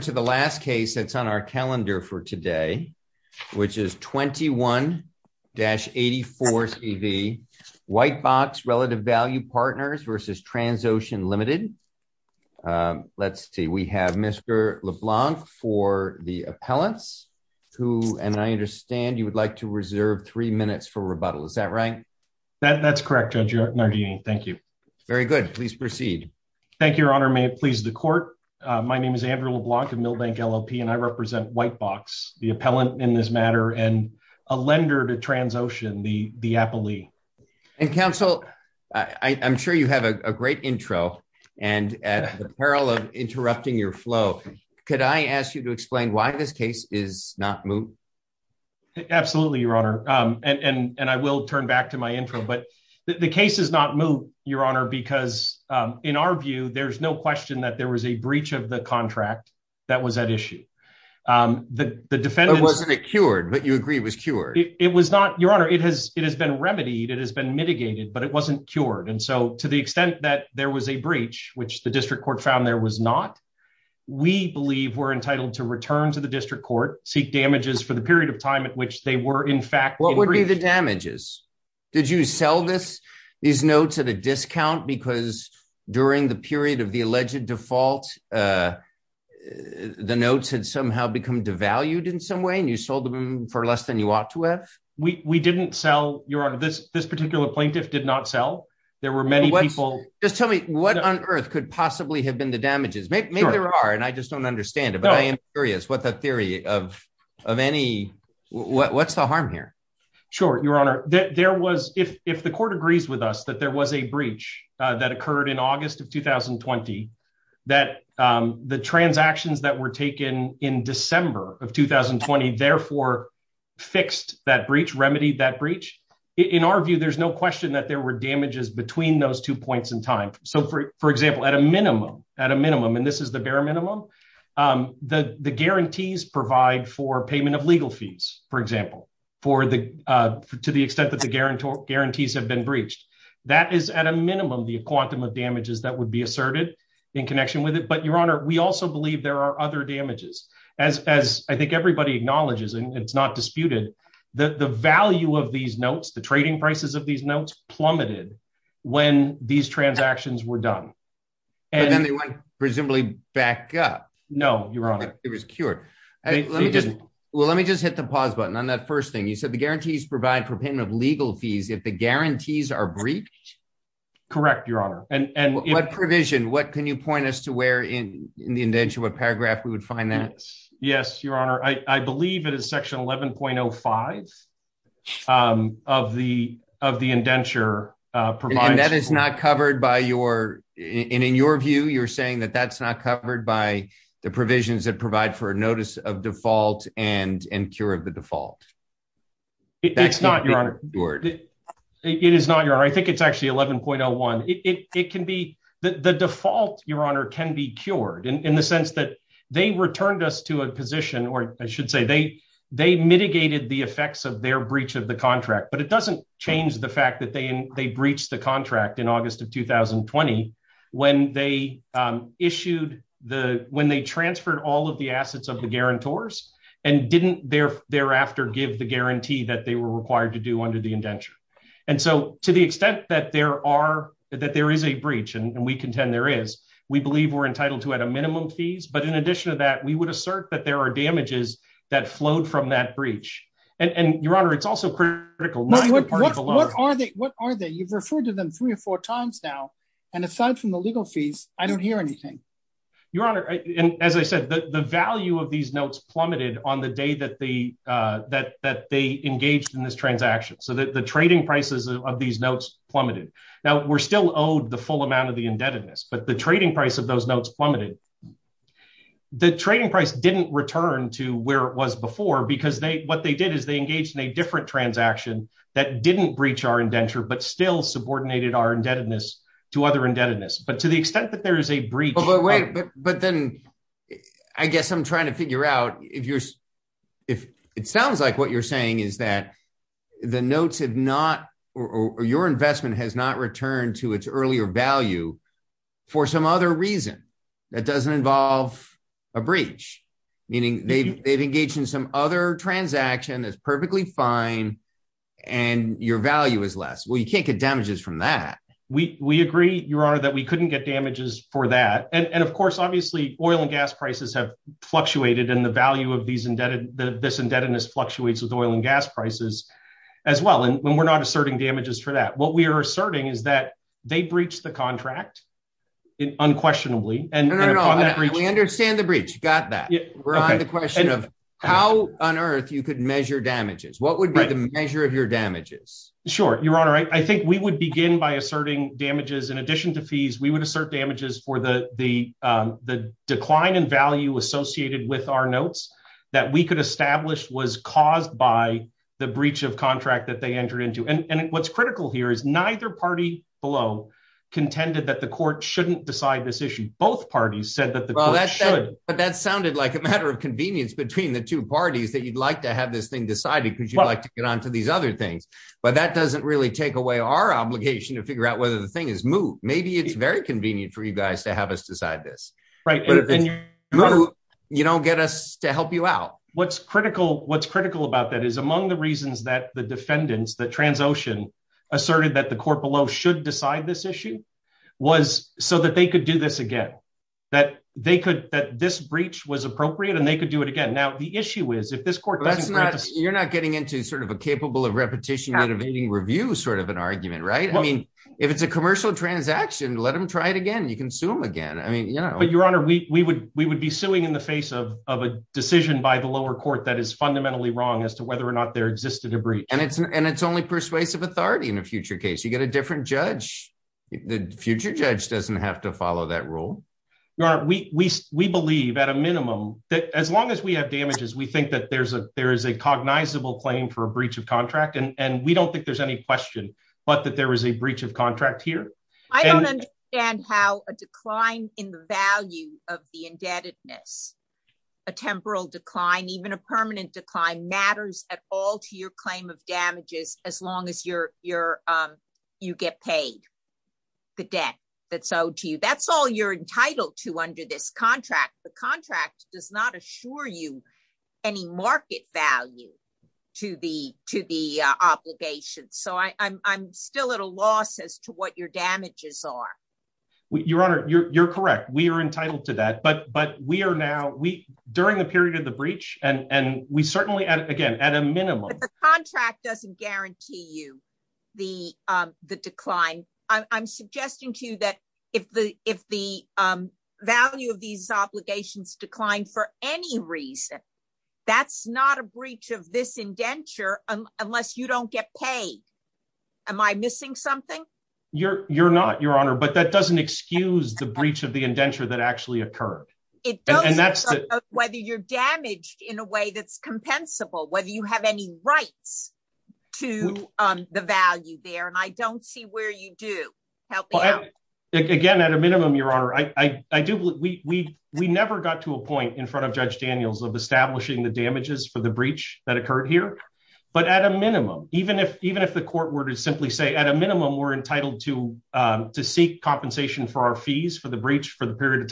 to the last case that's o today, which is 21-84 C. Value Partners versus Tra Let's see, we have Mr Le who, and I understand you three minutes for rebutta That's correct. Judge. No good. Please proceed. Than the court. My name is Andre LLP and I represent White in this matter and a lende the appellee and counsel. a great intro and at the your flow. Could I ask yo this case is not moved? Ab and I will turn back to m case is not moved, your h In our view, there's no q was a breach of the contr Um, the defendant wasn't agree was cured. It was n has been remedied. It has it wasn't cured. And so t was a breach, which the d there was not. We believe to return to the district for the period of time at fact, what would be the d Did you sell this? These because during the period Uh, the notes had somehow in some way and you sold ought to have. We didn't this particular plaintiff were many people. Just te could possibly have been there are and I just don' I am curious what the the of any, what's the harm h honor that there was if t us that there was a breac august of 2020 that the t were taken in december of that breach remedied that there's no question that between those two points example, at a minimum, at is the bare minimum. Um, provide for payment of le for the uh, to the extent have been breached. That the quantum of damages th in connection with it. Bu also believe there are ot I think everybody acknowl disputed the value of the prices of these notes plu transactions were done an presumably back up. No, y cured. Well, let me just on that first thing. You provide for payment of le are breached. Correct. Yo provision? What can you p in the indenture? What pa that? Yes, your honor. I 11.05. Um, of the, of the that is not covered by yo your view, you're saying by the provisions that pr of default and and cure o not your honor. It is not actually 11.01. It can be can be cured in the sense us to a position or I sho mitigated the effects of contract. But it doesn't that they they breached t of 2020 when they issued all of the assets of the didn't there thereafter g they were required to do And so to the extent that is a breach and we conten we're entitled to at a mi in addition to that, we w are damages that flowed f your honor. It's also cr are they? What are they? to them three or four tim from the legal fees, I do honor. And as I said, the plummeted on the day that engaged in this transacti prices of these notes plu still owed the full amoun but the trading price of The trading price didn't before because they what engaged in a different tr didn't breach our indentu our indebtedness to other to the extent that there then I guess I'm trying t you're if it sounds like that the notes have not o has not returned to its e some other reason that do meaning they've engaged i is perfectly fine and you you can't get damages fro your honor that we couldn that. And of course, obvi have fluctuated in the va that this indebtedness fl gas prices as well. And w damages for that. What we they breached the contract and we understand the bre on the question of how on damages? What would be th Sure, your honor. I think damages. In addition to f damages for the decline a with our notes that we co caused by the breach of c into. And what's critical below contended that the this issue. Both parties should. But that sounded between the two parties t have this thing decided b get on to these other thi really take away our oblig the thing is moved. Maybe for you guys to have us d if you move, you don't ge What's critical. What's c is among the reasons that Trans Ocean asserted that decide this issue was so again, that they could, t and they could do it agai is if this court, that's into sort of a capable of review, sort of an argume it's a commercial transac it again, you can sue him your honor, we would, we the face of a decision by is fundamentally wrong as there existed a breach an persuasive authority in a get a different judge. Th to follow that rule. We b that as long as we have d that there's a, there is for a breach of contract there's any question, but breach of contract here. a decline in the value of temporal decline, even a at all to your claim of d as your, your, um, you ge that's owed to you. That' to under this contract. T assure you any market val obligations. So I'm still your damages are. Your ho We are entitled to that, we during the period of t we certainly again at a m doesn't guarantee you the suggesting to you that if of these obligations decl that's not a breach of th you don't get paid. Am I you're, you're not your h excuse the breach of the occurred. It doesn't, whe in a way that's compensabl have any rights to the va don't see where you do he your honor. I, I do. We n in front of Judge Daniels the damages for the breac But at a minimum, even if to simply say at a minimu to, um, to seek compensat the breach for the period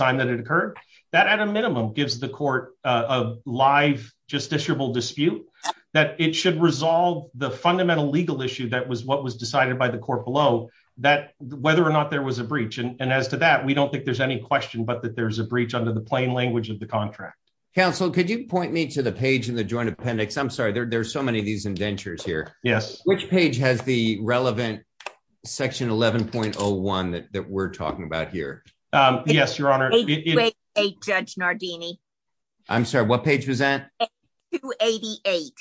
occurred that at a minimu of live justiciable dispu resolve the fundamental l what was decided by the c or not there was a breach we don't think there's an there's a breach under th of the contract. Counsel, to the page in the joint there's so many of these which page has the relevan that we're talking about Um, yes, your honor. Judge what page was that? 288.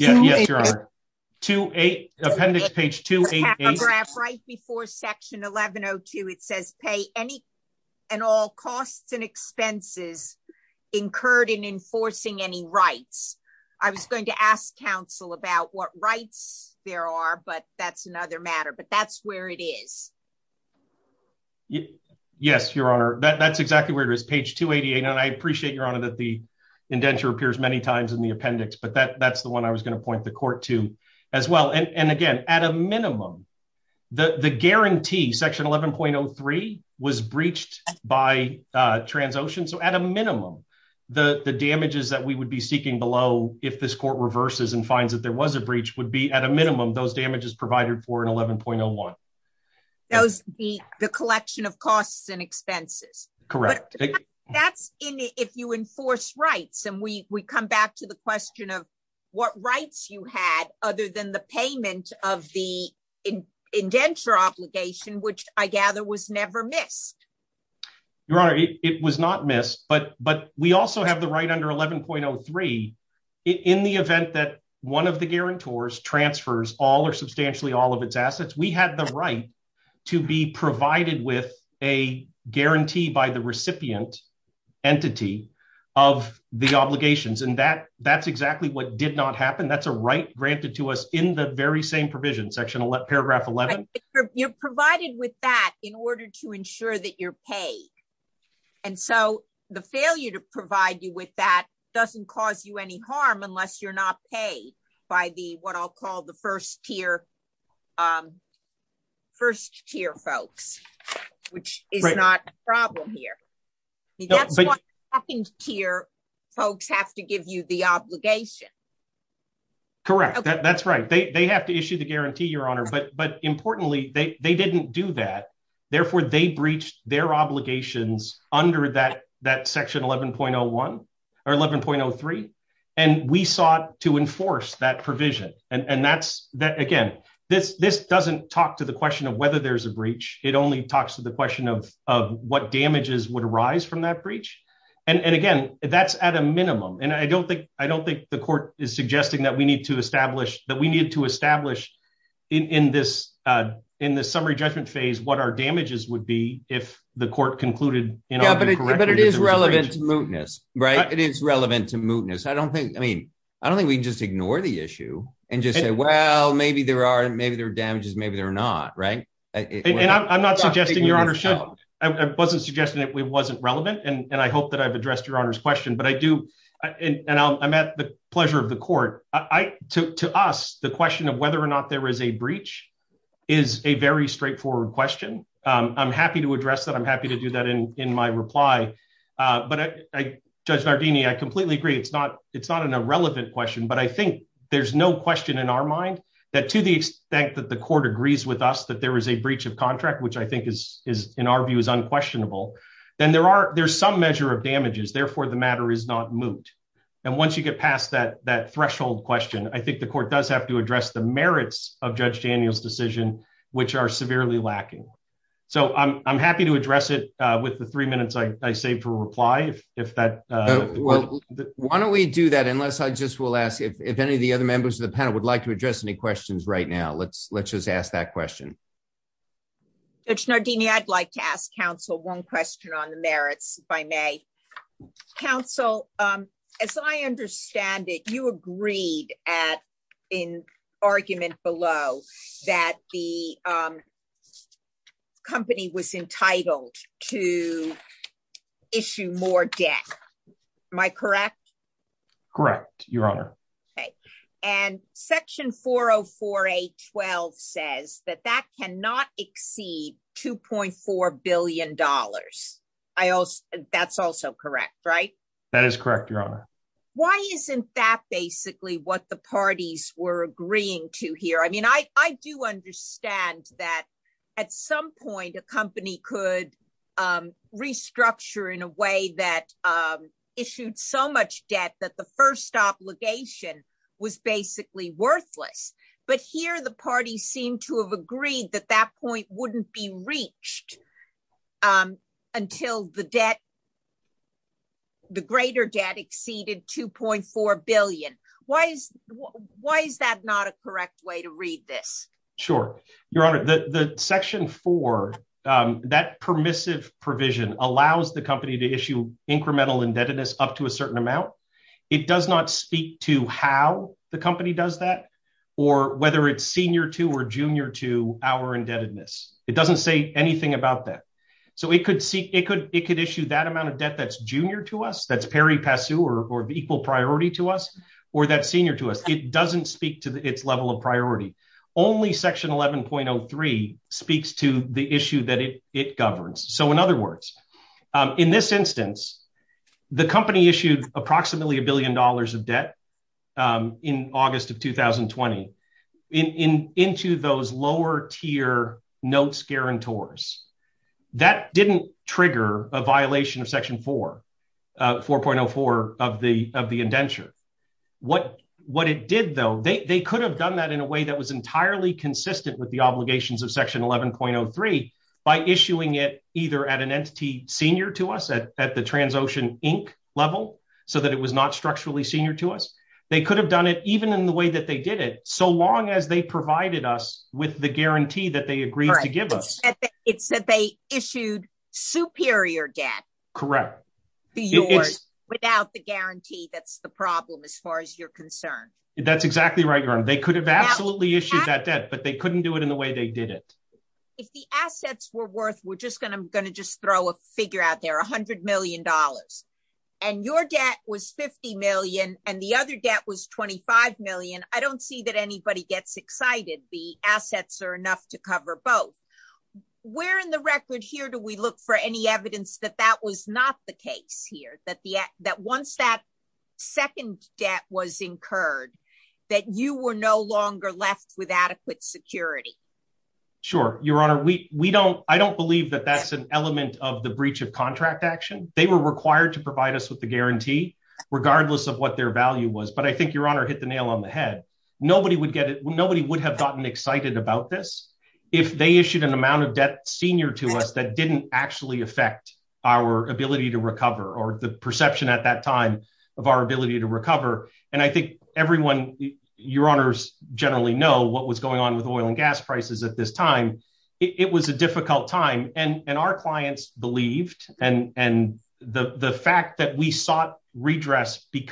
yes, your honor. 28 append right before section 1102 costs and expenses incurr any rights. I was going t what rights there are, bu that's where it is. Yes, exactly where it is. Page your honor that the inden times in the appendix, bu one I was going to point And again, at a minimum t 11.03 was breached by tra minimum, the damages that below. If this court rever there was a breach would those damages provided fo the collection of costs a that's if you enforce rig back to the question of w other than the payment of which I gather was never not missed. But but we al 11.03 in the event that o transfers all are substan We have the right to be p by the recipient entity o and that that's exactly w That's a right granted to provision section. Paragr provided with that in ord you're paid. And so the f you with that doesn't cau you're not paid by the wh here. Um First tier folks here. That's what happens to give you the obligatio that's right. They have t your honor. But but impor do that. Therefore they b under that that section 1 and we sought to enforce that's that again, this t question of whether there only talks to the question would arise from that bre at a minimum. And I don't the court is suggesting t that we need to establish phase, what our damages w concluded. But it is rele it is relevant to mootnes I mean, I don't think we and just say, well, maybe their damages, maybe they I'm not suggesting your h suggesting that it wasn't I hope that I've addresse But I do and I'm at the p I took to us the question whether or not there is a straightforward question. that. I'm happy to do tha But I judge Nardini, I co not, it's not an irreleva I think there's no questi to the extent that the co that there is a breach of think is in our view is u there are, there's some m therefore the matter is n you get past that, that t I think the court does ha of Judge Daniel's decisio lacking. So I'm happy to the three minutes I saved uh, why don't we do that? ask if any of the other m would like to address any now, let's let's just ask Nardini, I'd like to ask on the merits by May coun I understand it, you agre below that the, um, compa to issue more debt. Am I your honor. Okay. And sec that that cannot exceed $2 I also, that's also corre correct. Your honor. Why what the parties were agr I, I do understand that a could, um, restructure in so much debt that the fir basically worthless. But to have agreed that that wouldn't be reached. Um, the greater debt exceeded is, why is that not a cor this? Sure. Your honor, t permissive provision allow incremental indebtedness It does not speak to how that or whether it's seni to our indebtedness. It d about that. So we could s that amount of debt that' Perry Passu or equal prio senior to us. It doesn't of priority. Only section to the issue that it it g words. Um, in this instan approximately a billion d um, in august of 2020 in, tier notes, guarantors th a violation of section 44 indenture. What what it d have done that in a way t consistent with the oblig 11.03 by issuing it eithe to us at the Transocean i not structurally senior t have done it even in the So long as they provided that they agreed to give issued superior debt corr the guarantee. That's the your concern. That's exac could have absolutely iss they couldn't do it in th If the assets were worth, going to just throw a fig $100 million and your debt and the other debt was 25 see that anybody gets exc are enough to cover both. here? Do we look for any was not the case here? Th that second debt was incur no longer left with adequ your honor. We don't, I d of the breach of contract required to provide us wi of what their value was. hit the nail on the head. nobody would have gotten if they issued an amount us that didn't actually a to recover or the percepc our ability to recover. A your honors generally kno with oil and gas prices a time and our clients belie that we sought redress be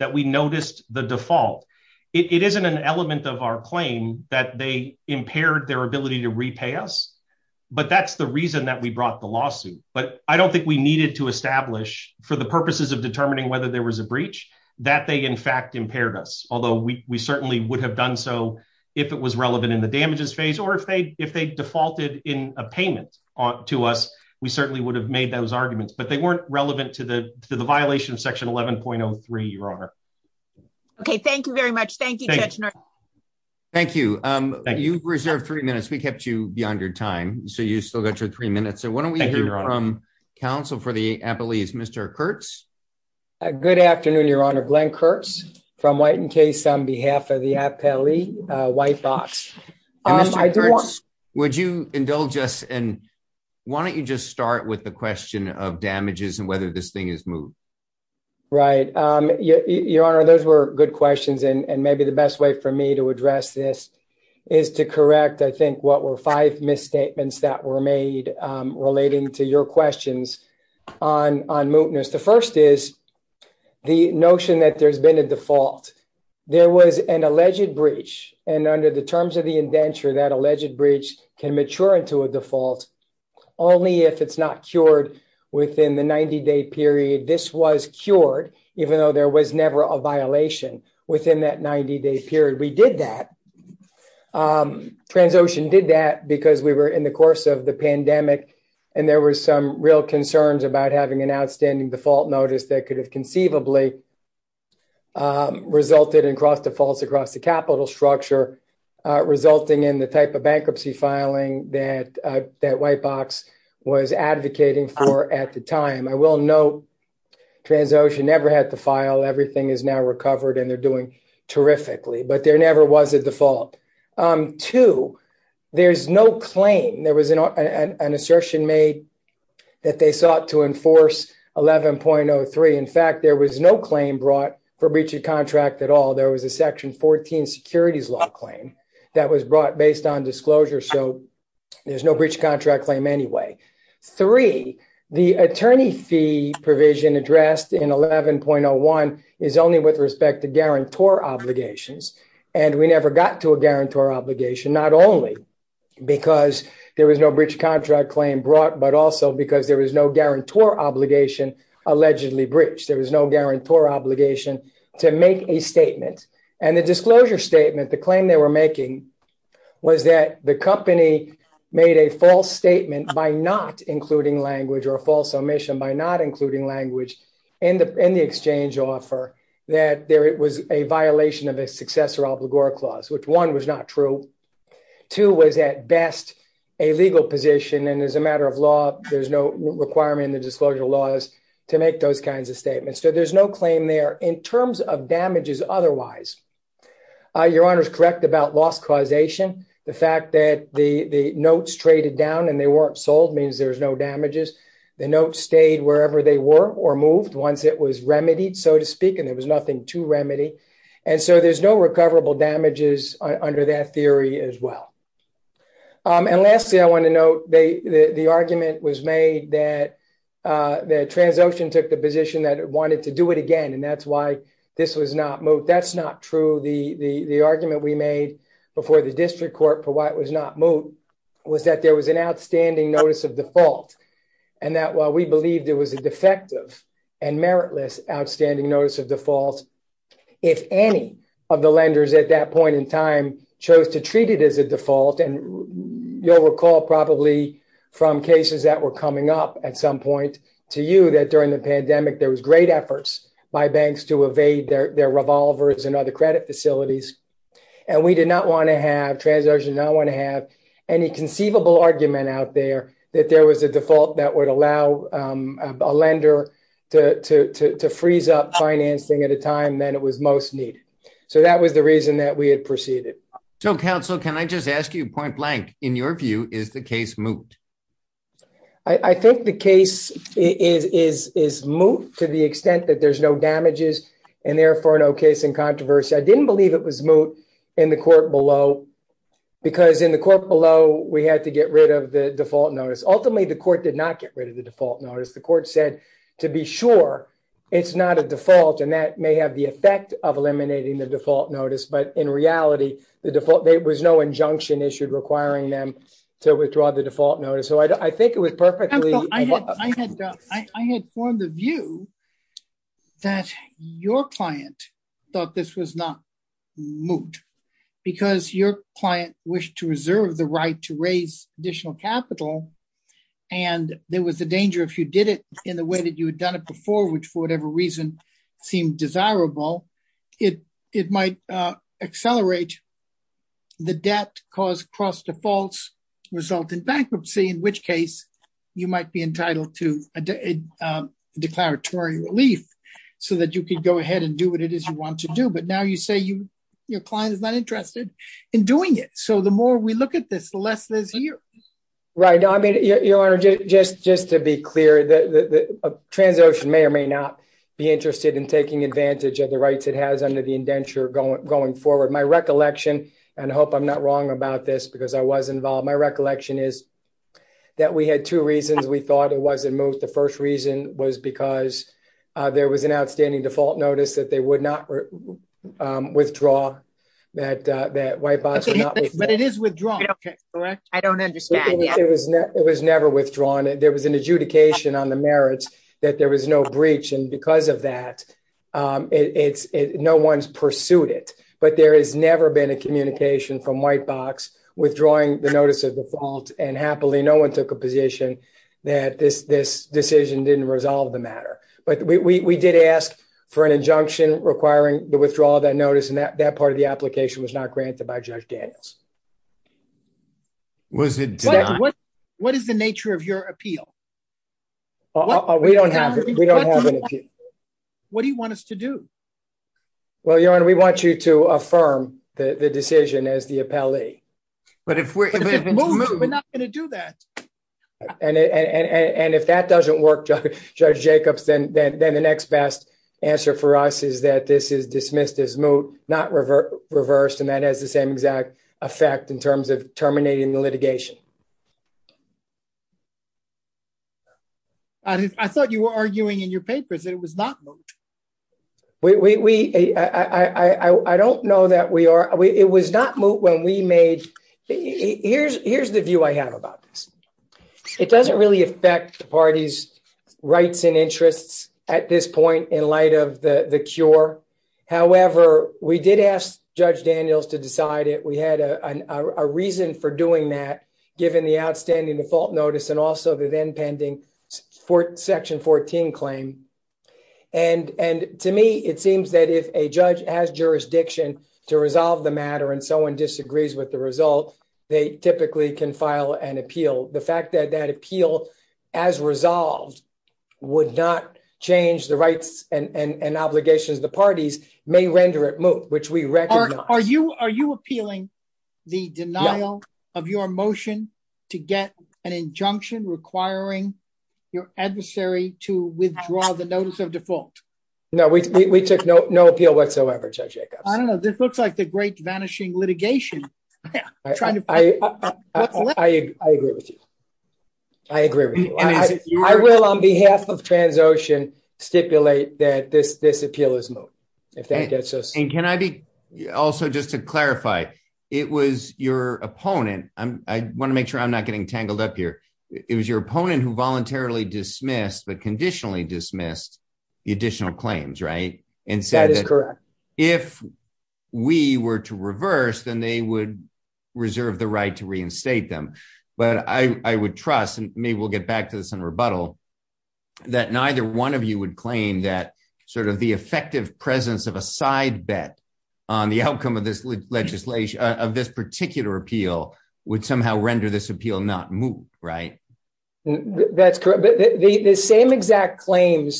that we noticed the defau of our claim that they im to repay us. But that's t brought the lawsuit. But to establish for the purp whether there was a breac impaired us. Although we have done so if it was re or if they, if they defau to us, we certainly would arguments, but they weren violation of section 11.0 thank you very much. Thank you. Um, you reserved thre beyond your time. So you' minutes. So why don't we for the appellees? Mr. Ki your honor. Glenn Kurtz f on behalf of the appellee I do want, would you indu you just start with the q and whether this thing is honor. Those were good qu the best way for me to ad I think what were five mi made relating to your que The first is the notion t a default. There was an a under the terms of the in breach can mature into a not cured within the 90 d cured even though there w within that 90 day period did that because we were pandemic and there was so having an outstanding def that could have conceivabl defaults across the capit in the type of bankruptcy white box was advocating will know transaction nev everything is now recover terrifically. But there n Um, two, there's no claim there was an assertion ma to enforce 11.03. In fact brought for breaching con was a section 14 securitie was brought based on disc no breach contract claim fee provision addressed i with respect to guarantor we never got to a guarant obligation not only becau contract claim brought, b there was no guarantor ob breached. There was no gu to make a statement and t the claim they were making made a false statement by or false omission by not in the in the exchange of a violation of a successo was not true. Two was at and as a matter of law, t the disclosure laws to ma of statements. So there's in terms of damages. Othe correct about loss causat the notes traded down and means there's no damages. they were or moved once i and there was nothing to r there's no recoverable da theory as well. Um And la they, the argument was ma took the position that wa and that's why this was n true. The argument we made court for what was not mo was an outstanding notice that while we believed it and meritless outstanding notice of default. If any that point in time chose and you'll recall probabl were coming up at some po the pandemic, there was g to evade their revolvers facilities. And we did no not want to have any conce out there that there was would allow a lender to f at a time than it was mos the reason that we had pr can I just ask you point case moved? I think the c the extent that there's n for no case in controvers it was moot in the court the court below, we had t Ultimately, the court did notice. The court said to a default and that may ha the default notice. But i there was no injunction i to withdraw the default n was perfectly, I had, I h view that your client thou moot because your client the right to raise additi there was a danger if you you had done it before, w seem desirable, it might cause cross defaults, res which case you might be e relief so that you could it is you want to do. But your client is not intere it. So the more we look a here, right? I mean, your to be clear that the tran not be interested in taki rights it has under the i forward. My recollection about this because I was wasn't moved. The first r there was an outstanding that they would not um wi white box, but it is with don't understand. It was There was an adjudication there was no breach and b no one's pursued it, but a communication from white the notice of default and took a position that this the matter. But we did as requiring the withdrawal that part of the applicat by Judge Daniels. Was it nature of your appeal? We don't have any. What do y your honor? We want you t as the appellee. But if w not going to do that. And work, Judge Jacobs, then for us is that this is di reversed and that has the in terms of terminating t I thought you were arguin It was not. We, I don't k when we made, here's, her about this. It doesn't re rights and interests at t of the cure. However, we to decide it. We had a re given the outstanding def also the then pending for And and to me it seems th as jurisdiction to resolv someone disagrees with th can file an appeal. The f as resolved would not cha and and obligations. The it move, which we recogni appealing the denial of y an injunction requiring y the notice of default? No Judge Jacobs. I don't kno the great vanishing litig I, I, I agree with you. I on behalf of Transocean s this appeal is moved. If I be also just to clarifi I want to make sure I'm n up here. It was your oppo dismissed but conditionall right? And so that is cor to reverse, then they wou to reinstate them. But I we'll get back to this in one of you would claim th presence of a side bet on legislation of this partic somehow render this appeal right? That's correct. Th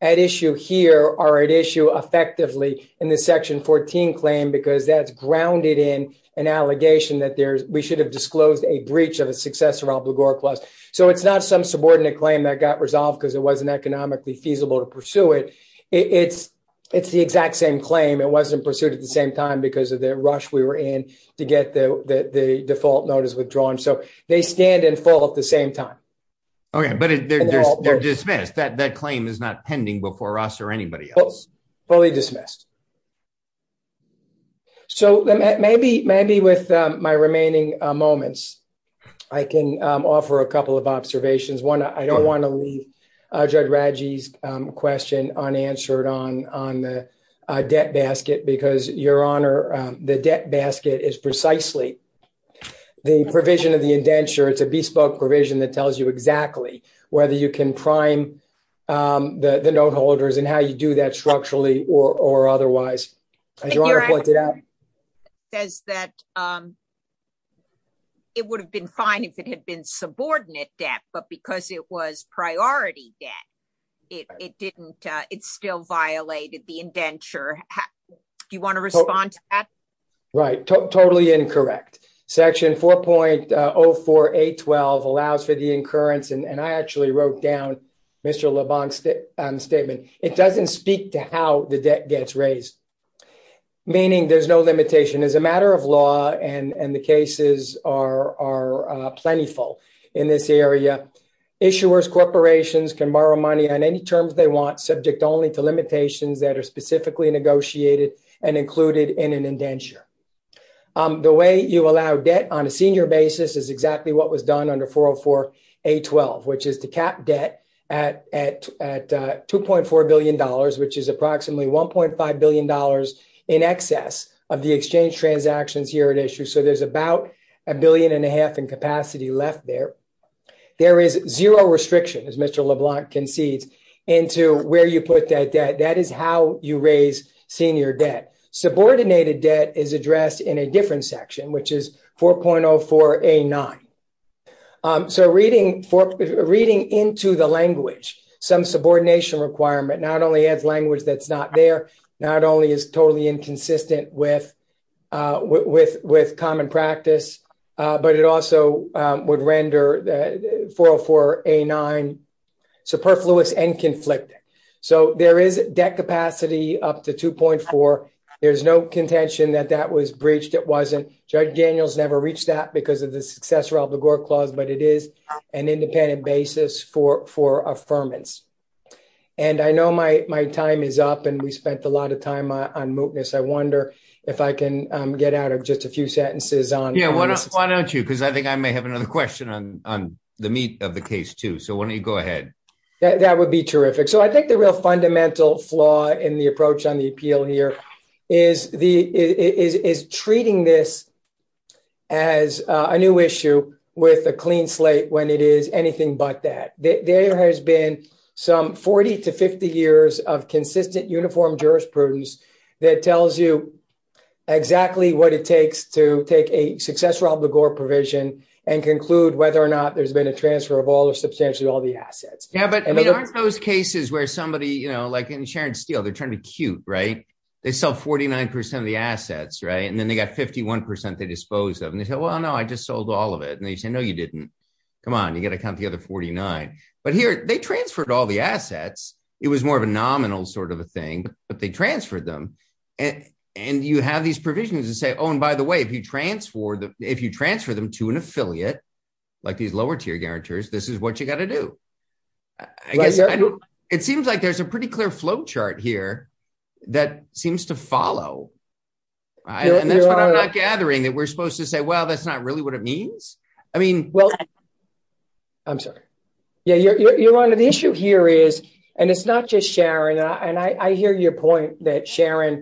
at issue here are at issu this section 14 claim bec in an allegation that the disclosed a breach of a s plus. So it's not some su got resolved because it w feasible to pursue it. It same claim. It wasn't pur time because of the rush the default notice withdr stand and fall at the sam they're dismissed. That c before us or anybody else So maybe maybe with my re I can offer a couple of o I don't want to leave Jud unanswered on on the debt honor the debt basket is precisely the provision o a bespoke provision that whether you can prime um and how you do that struc as your honor pointed out would have been fine if i debt, but because it was didn't, it's still violat Do you want to respond to incorrect section 4.04812 and I actually wrote down It doesn't speak to how t meaning there's no limitat of law and the cases are area. Issuers, corporatio on any terms they want, s that are specifically neg in an indenture. Um the w on a senior basis is exac under 4.04812, which is t $2.4 billion, which is ap dollars in excess of the here at issue. So there's and a half in capacity le restriction as Mr LeBlanc where you put that debt. senior debt. Subordinated in a different section, w So reading for reading in subordination requirement that's not there. Not onl with uh with with common also would render the 404 and conflicted. So there up to 2.4. There's no con breached. It wasn't judge that because of the succe but it is an independent And I know my my time is a lot of time on mootness get out of just a few sent don't you? Because I think question on on the meat o you go ahead. That would I think the real fundamen on the appeal here is the as a new issue with a cle but that there has been s of consistent uniform jur you exactly what it takes obligor provision and conc there's been a transfer o all the assets. Yeah, but where somebody, you know, steel, they're trying to 49% of the assets, right? 51% they dispose of and t I just sold all of it. An didn't come on. You got t But here they transferred was more of a nominal sor they transferred them and and say, oh, and by the w if you transfer them to a lower tier guarantors, th to do. I guess it seems l clear flowchart here that right? And that's what I' we're supposed to say. We what it means. I mean, w Yeah, you're you're on th it's not just sharing and that Sharon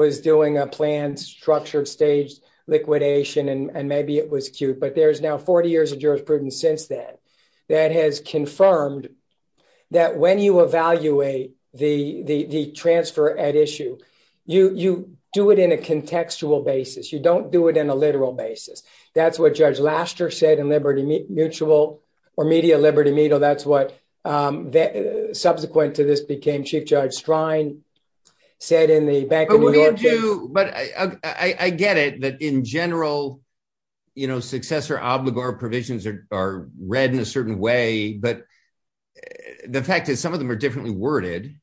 was doing a p liquidation and maybe it now 40 years of jurisprud has confirmed that when y transfer at issue, you do basis. You don't do it in what Judge Laster said in or media Liberty Meadow. Subsequent to this became judge strine said in the I get it that in general, obligor provisions are re But the fact is some of t worded.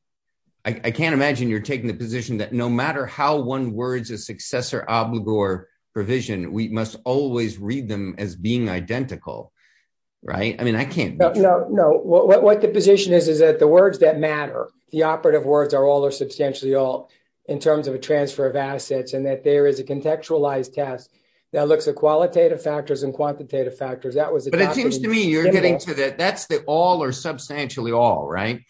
I can't imagine y that no matter how one wo obligor provision, we must as being identical, right? No, what the position is, that matter, the operativ are substantially all in assets and that there is that looks at qualitative factors. That was, but it getting to that. That's t all right.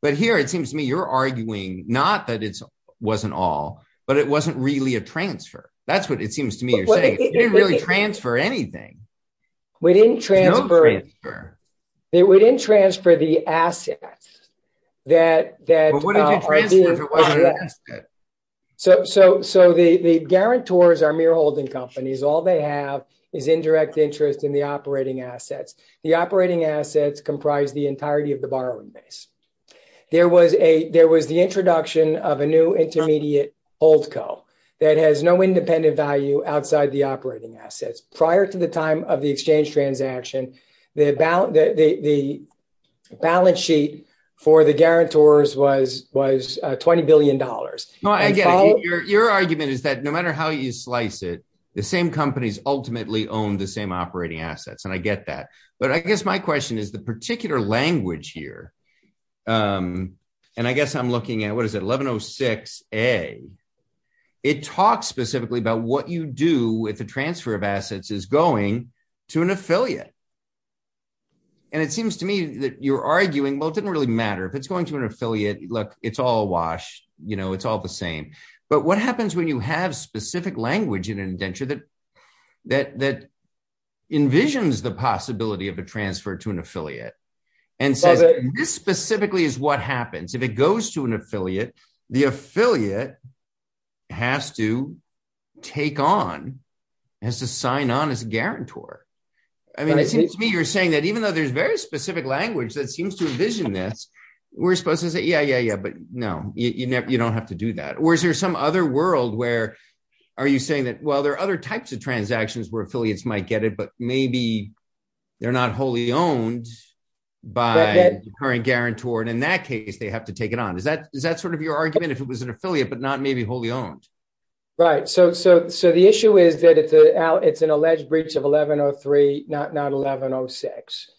But here it se not that it wasn't all, b a transfer. That's what i saying. You didn't really We didn't transfer. We di for the assets that that it wasn't that. So, so, s are mere holding companie is indirect interest in t The operating assets comp of the borrowing base. Th the introduction of a new that has no independent v assets prior to the time transaction, the balance guarantors was, was $20 b argument is that no matte the same companies ultima assets. And I get that. B is the particular languag I'm looking at, what is i specifically about what y of assets is going to an seems to me that you're a really matter if it's goi Look, it's all washed, yo same. But what happens wh language in an indenture the possibility of a tran And so this specifically it goes to an affiliate, the affiliate has to take on as a guarantor. I mean saying that even though t language that seems to in supposed to say, yeah, ye don't have to do that. Or world where are you saying other types of transactio might get it, but maybe t owned by current guaranto have to take it on. Is th if it was an affiliate, b owned. Right. So, so, so it's an alleged breach of 11 06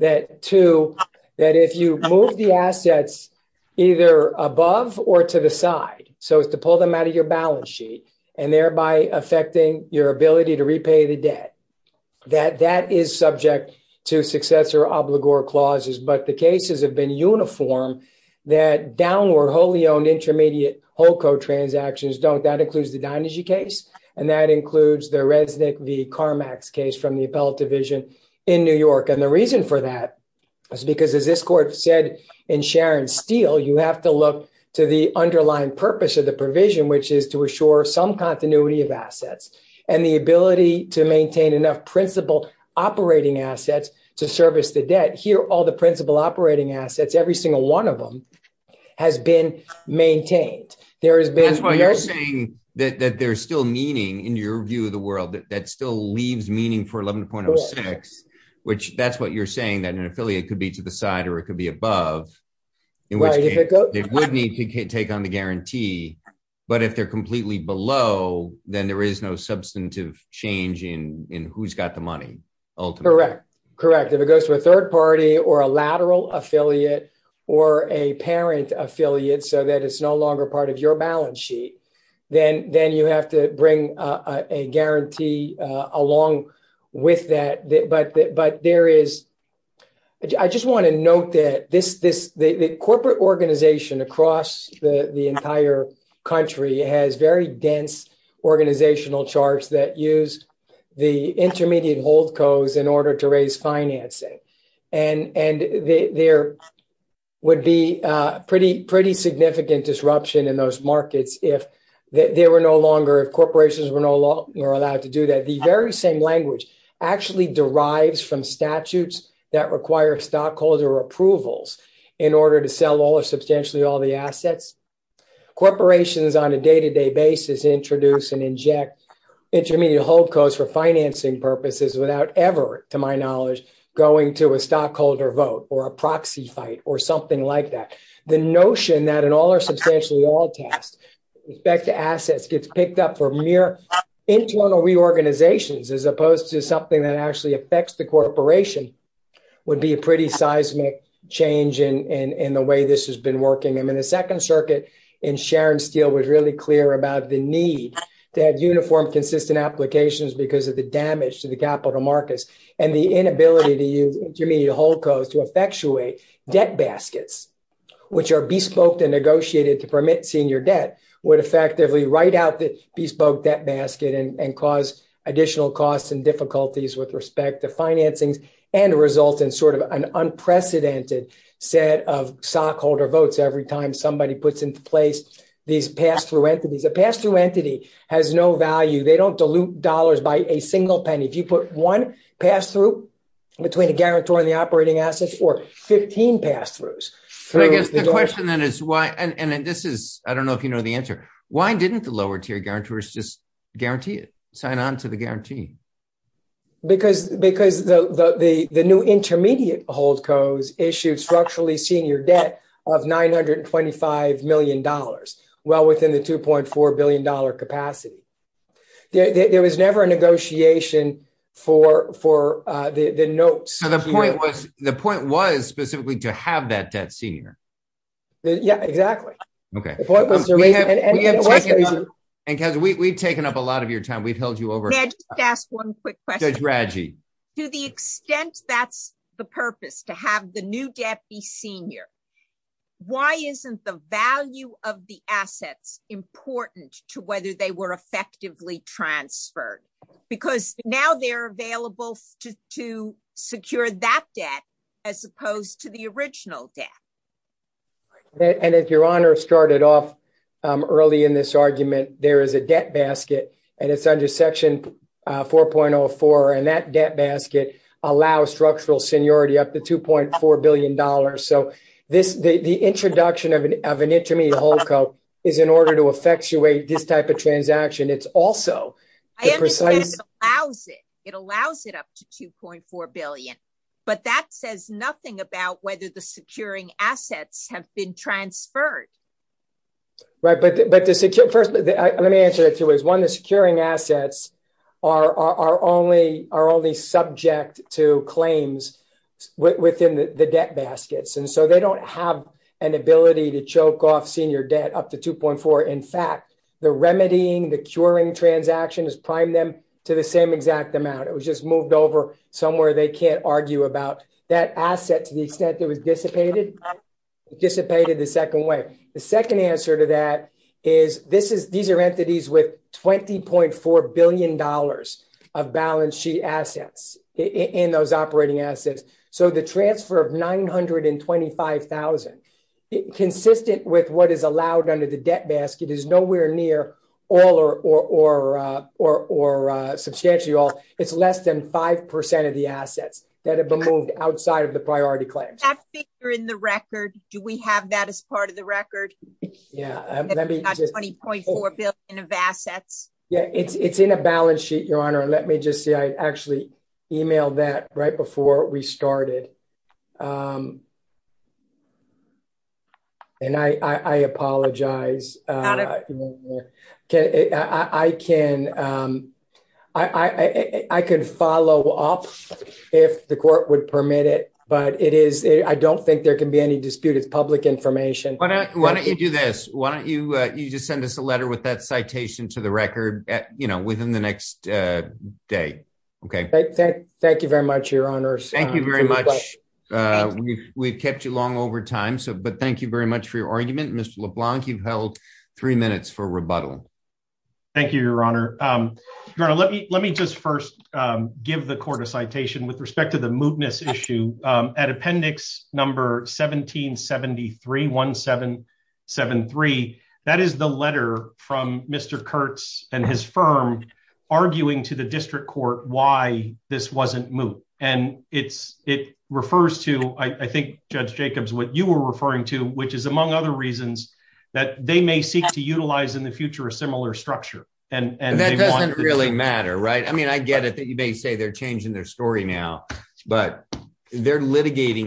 that to that if you above or to the side, so i out of your balance sheet your ability to repay the is subject to successor ob but the cases have been u wholly owned intermediate don't. That includes the includes the resident, th the appellate division in reason for that is becaus in Sharon Steel, you have purpose of the provision, some continuity of assets to maintain enough princi assets to service the dea operating assets, every s has been maintained. Ther saying that there's still view of the world that st for 11.06, which that's w that an affiliate could b it could be above. It wou take on the guarantee. Bu below, then there is no s in who's got the money. U if it goes to a third par affiliate or a parent aff no longer part of your ba you have to bring a guaran but but there is, I just this, this, the corporate the entire country has ve organizational charts that hold codes in order to ra there would be pretty, pr in those markets. If ther were no longer allowed to same language actually de that require stockholder to sell all of substantia Corporations on a day to and inject intermediate h purposes without ever to to a stockholder vote or something like that. The are substantially all tas gets picked up for mere i as opposed to something t the corporation would be change in the way this ha circuit in Sharon Steel w the need to have uniform because of the damage to and the inability to use to effectuate debt basket and negotiated to permit effectively write out the and and cause additional with respect to financings sort of an unprecedented set of stockholder votes puts into place these pas a pass through entity has don't dilute dollars by a put one pass through betw and the operating assets I guess the question then this is, I don't know if Why didn't the lower tier guarantee it sign on to t because because the new i hold codes issued structu of $925 million, well wit capacity. There was never for the notes. The point to have that debt senior. point was, and because we of your time, we've held one quick question. Reggie the purpose to have the n Why isn't the value of th to whether they were effe because now they're avail debt as opposed to the or if your honor started off there is a debt basket an section 4.04 and that de seniority up to $2.4 billi the introduction of an in in order to effectuate th It's also precise. It all 2.4 billion. But that say the securing assets have but but the first let me assets are are only are o claims within the debt ba don't have an ability to up to 2.4. In fact, the r transaction is prime them amount. It was just moved can't argue about that as was dissipated, dissipated way. The second answer to are entities with $20.4 b assets in those operating of 925,000 consistent wit under the debt basket is or or or substantially al of the assets that have b of the priority claims. T the record? Do we have th record? Yeah, let me 20.4 Yeah, it's it's in a bala and let me just see, I ac right before we started. uh, I can, um, I, I, I c court would permit it, bu I don't think there can b information. Why don't yo you just send us a letter to the record, you know, Okay, thank you very much you very much. Uh, we've time. So, but thank you v Mr LeBlanc. You've held t Thank you, Your Honor. Um me just first give the cou to the mootness issue. Um 1773 1773. That is the le and his firm arguing to t this wasn't moot. And it' Judge Jacobs, what you we is among other reasons th in the future, a similar doesn't really matter. Ri that you may say they're now, but they're litigati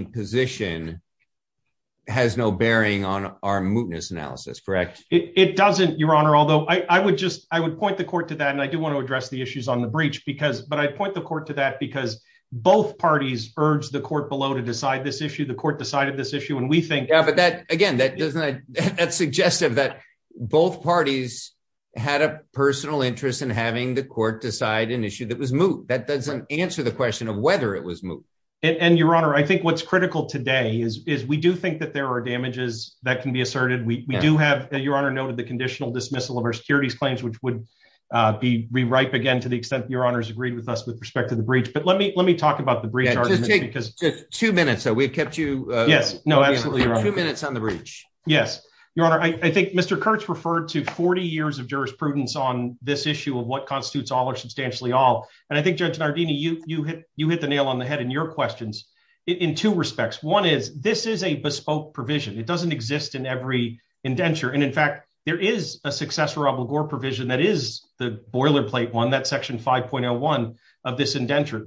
no bearing on our mootnes It doesn't, Your Honor. A I would point the court t want to address the issue but I'd point the court t parties urged the court b issue. The court decided think, but that again, th that both parties had a p an issue that was moot. T question of whether it wa I think what's critical t think that there are dama We do have, Your Honor, n dismissal of our securitie be re ripe again to the e agreed with us with respec let me let me talk about because two minutes, so w absolutely two minutes on honor. I think Mr Kurtz r of jurisprudence on this issue of what constitutes all. And I think Judge N the nail on the head in y respects. One is this is It doesn't exist in every in fact, there is a succe that is the boilerplate o 5.01 of this indenture. T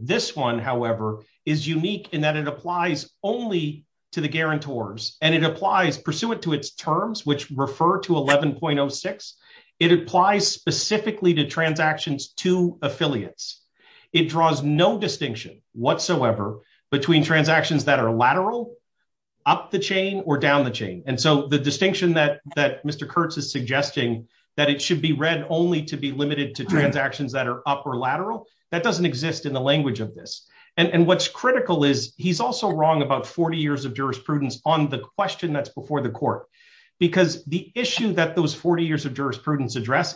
in that it applies only t it applies pursuant to it 11.06. It applies specifi to affiliates. It draws n between transactions that the chain or down the cha that that Mr Kurtz is sug be read only to be limite that are upper lateral. T the language of this. And he's also wrong about 40 on the question that's be court because the issue t of jurisprudence address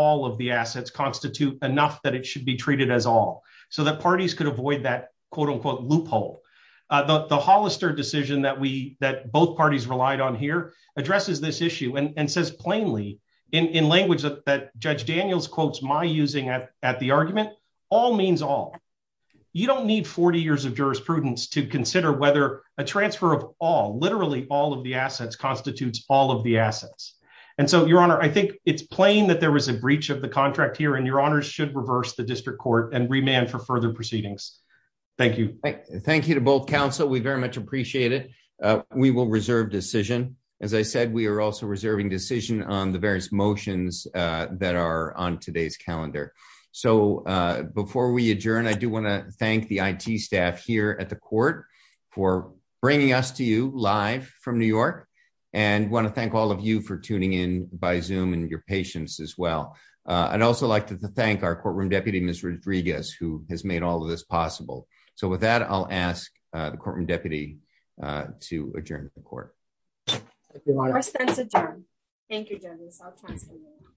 all of the assets constat it should be treated as a could avoid that quote on the Hollister decision th relied on here addresses says plainly in language quotes my using at the ar all. You don't need 40 ye to consider whether a tra all of the assets constat And so your honor, I thin was a breach of the contr should reverse the distri for further proceedings. you to both council. We v it. Uh we will reserve de we are also reserving dec motions that are on today we adjourn, I do want to the I. T. Staff here at t us to you live from new y all of you for tuning in as well. I'd also like to deputy Mr Rodriguez who h possible. So with that, I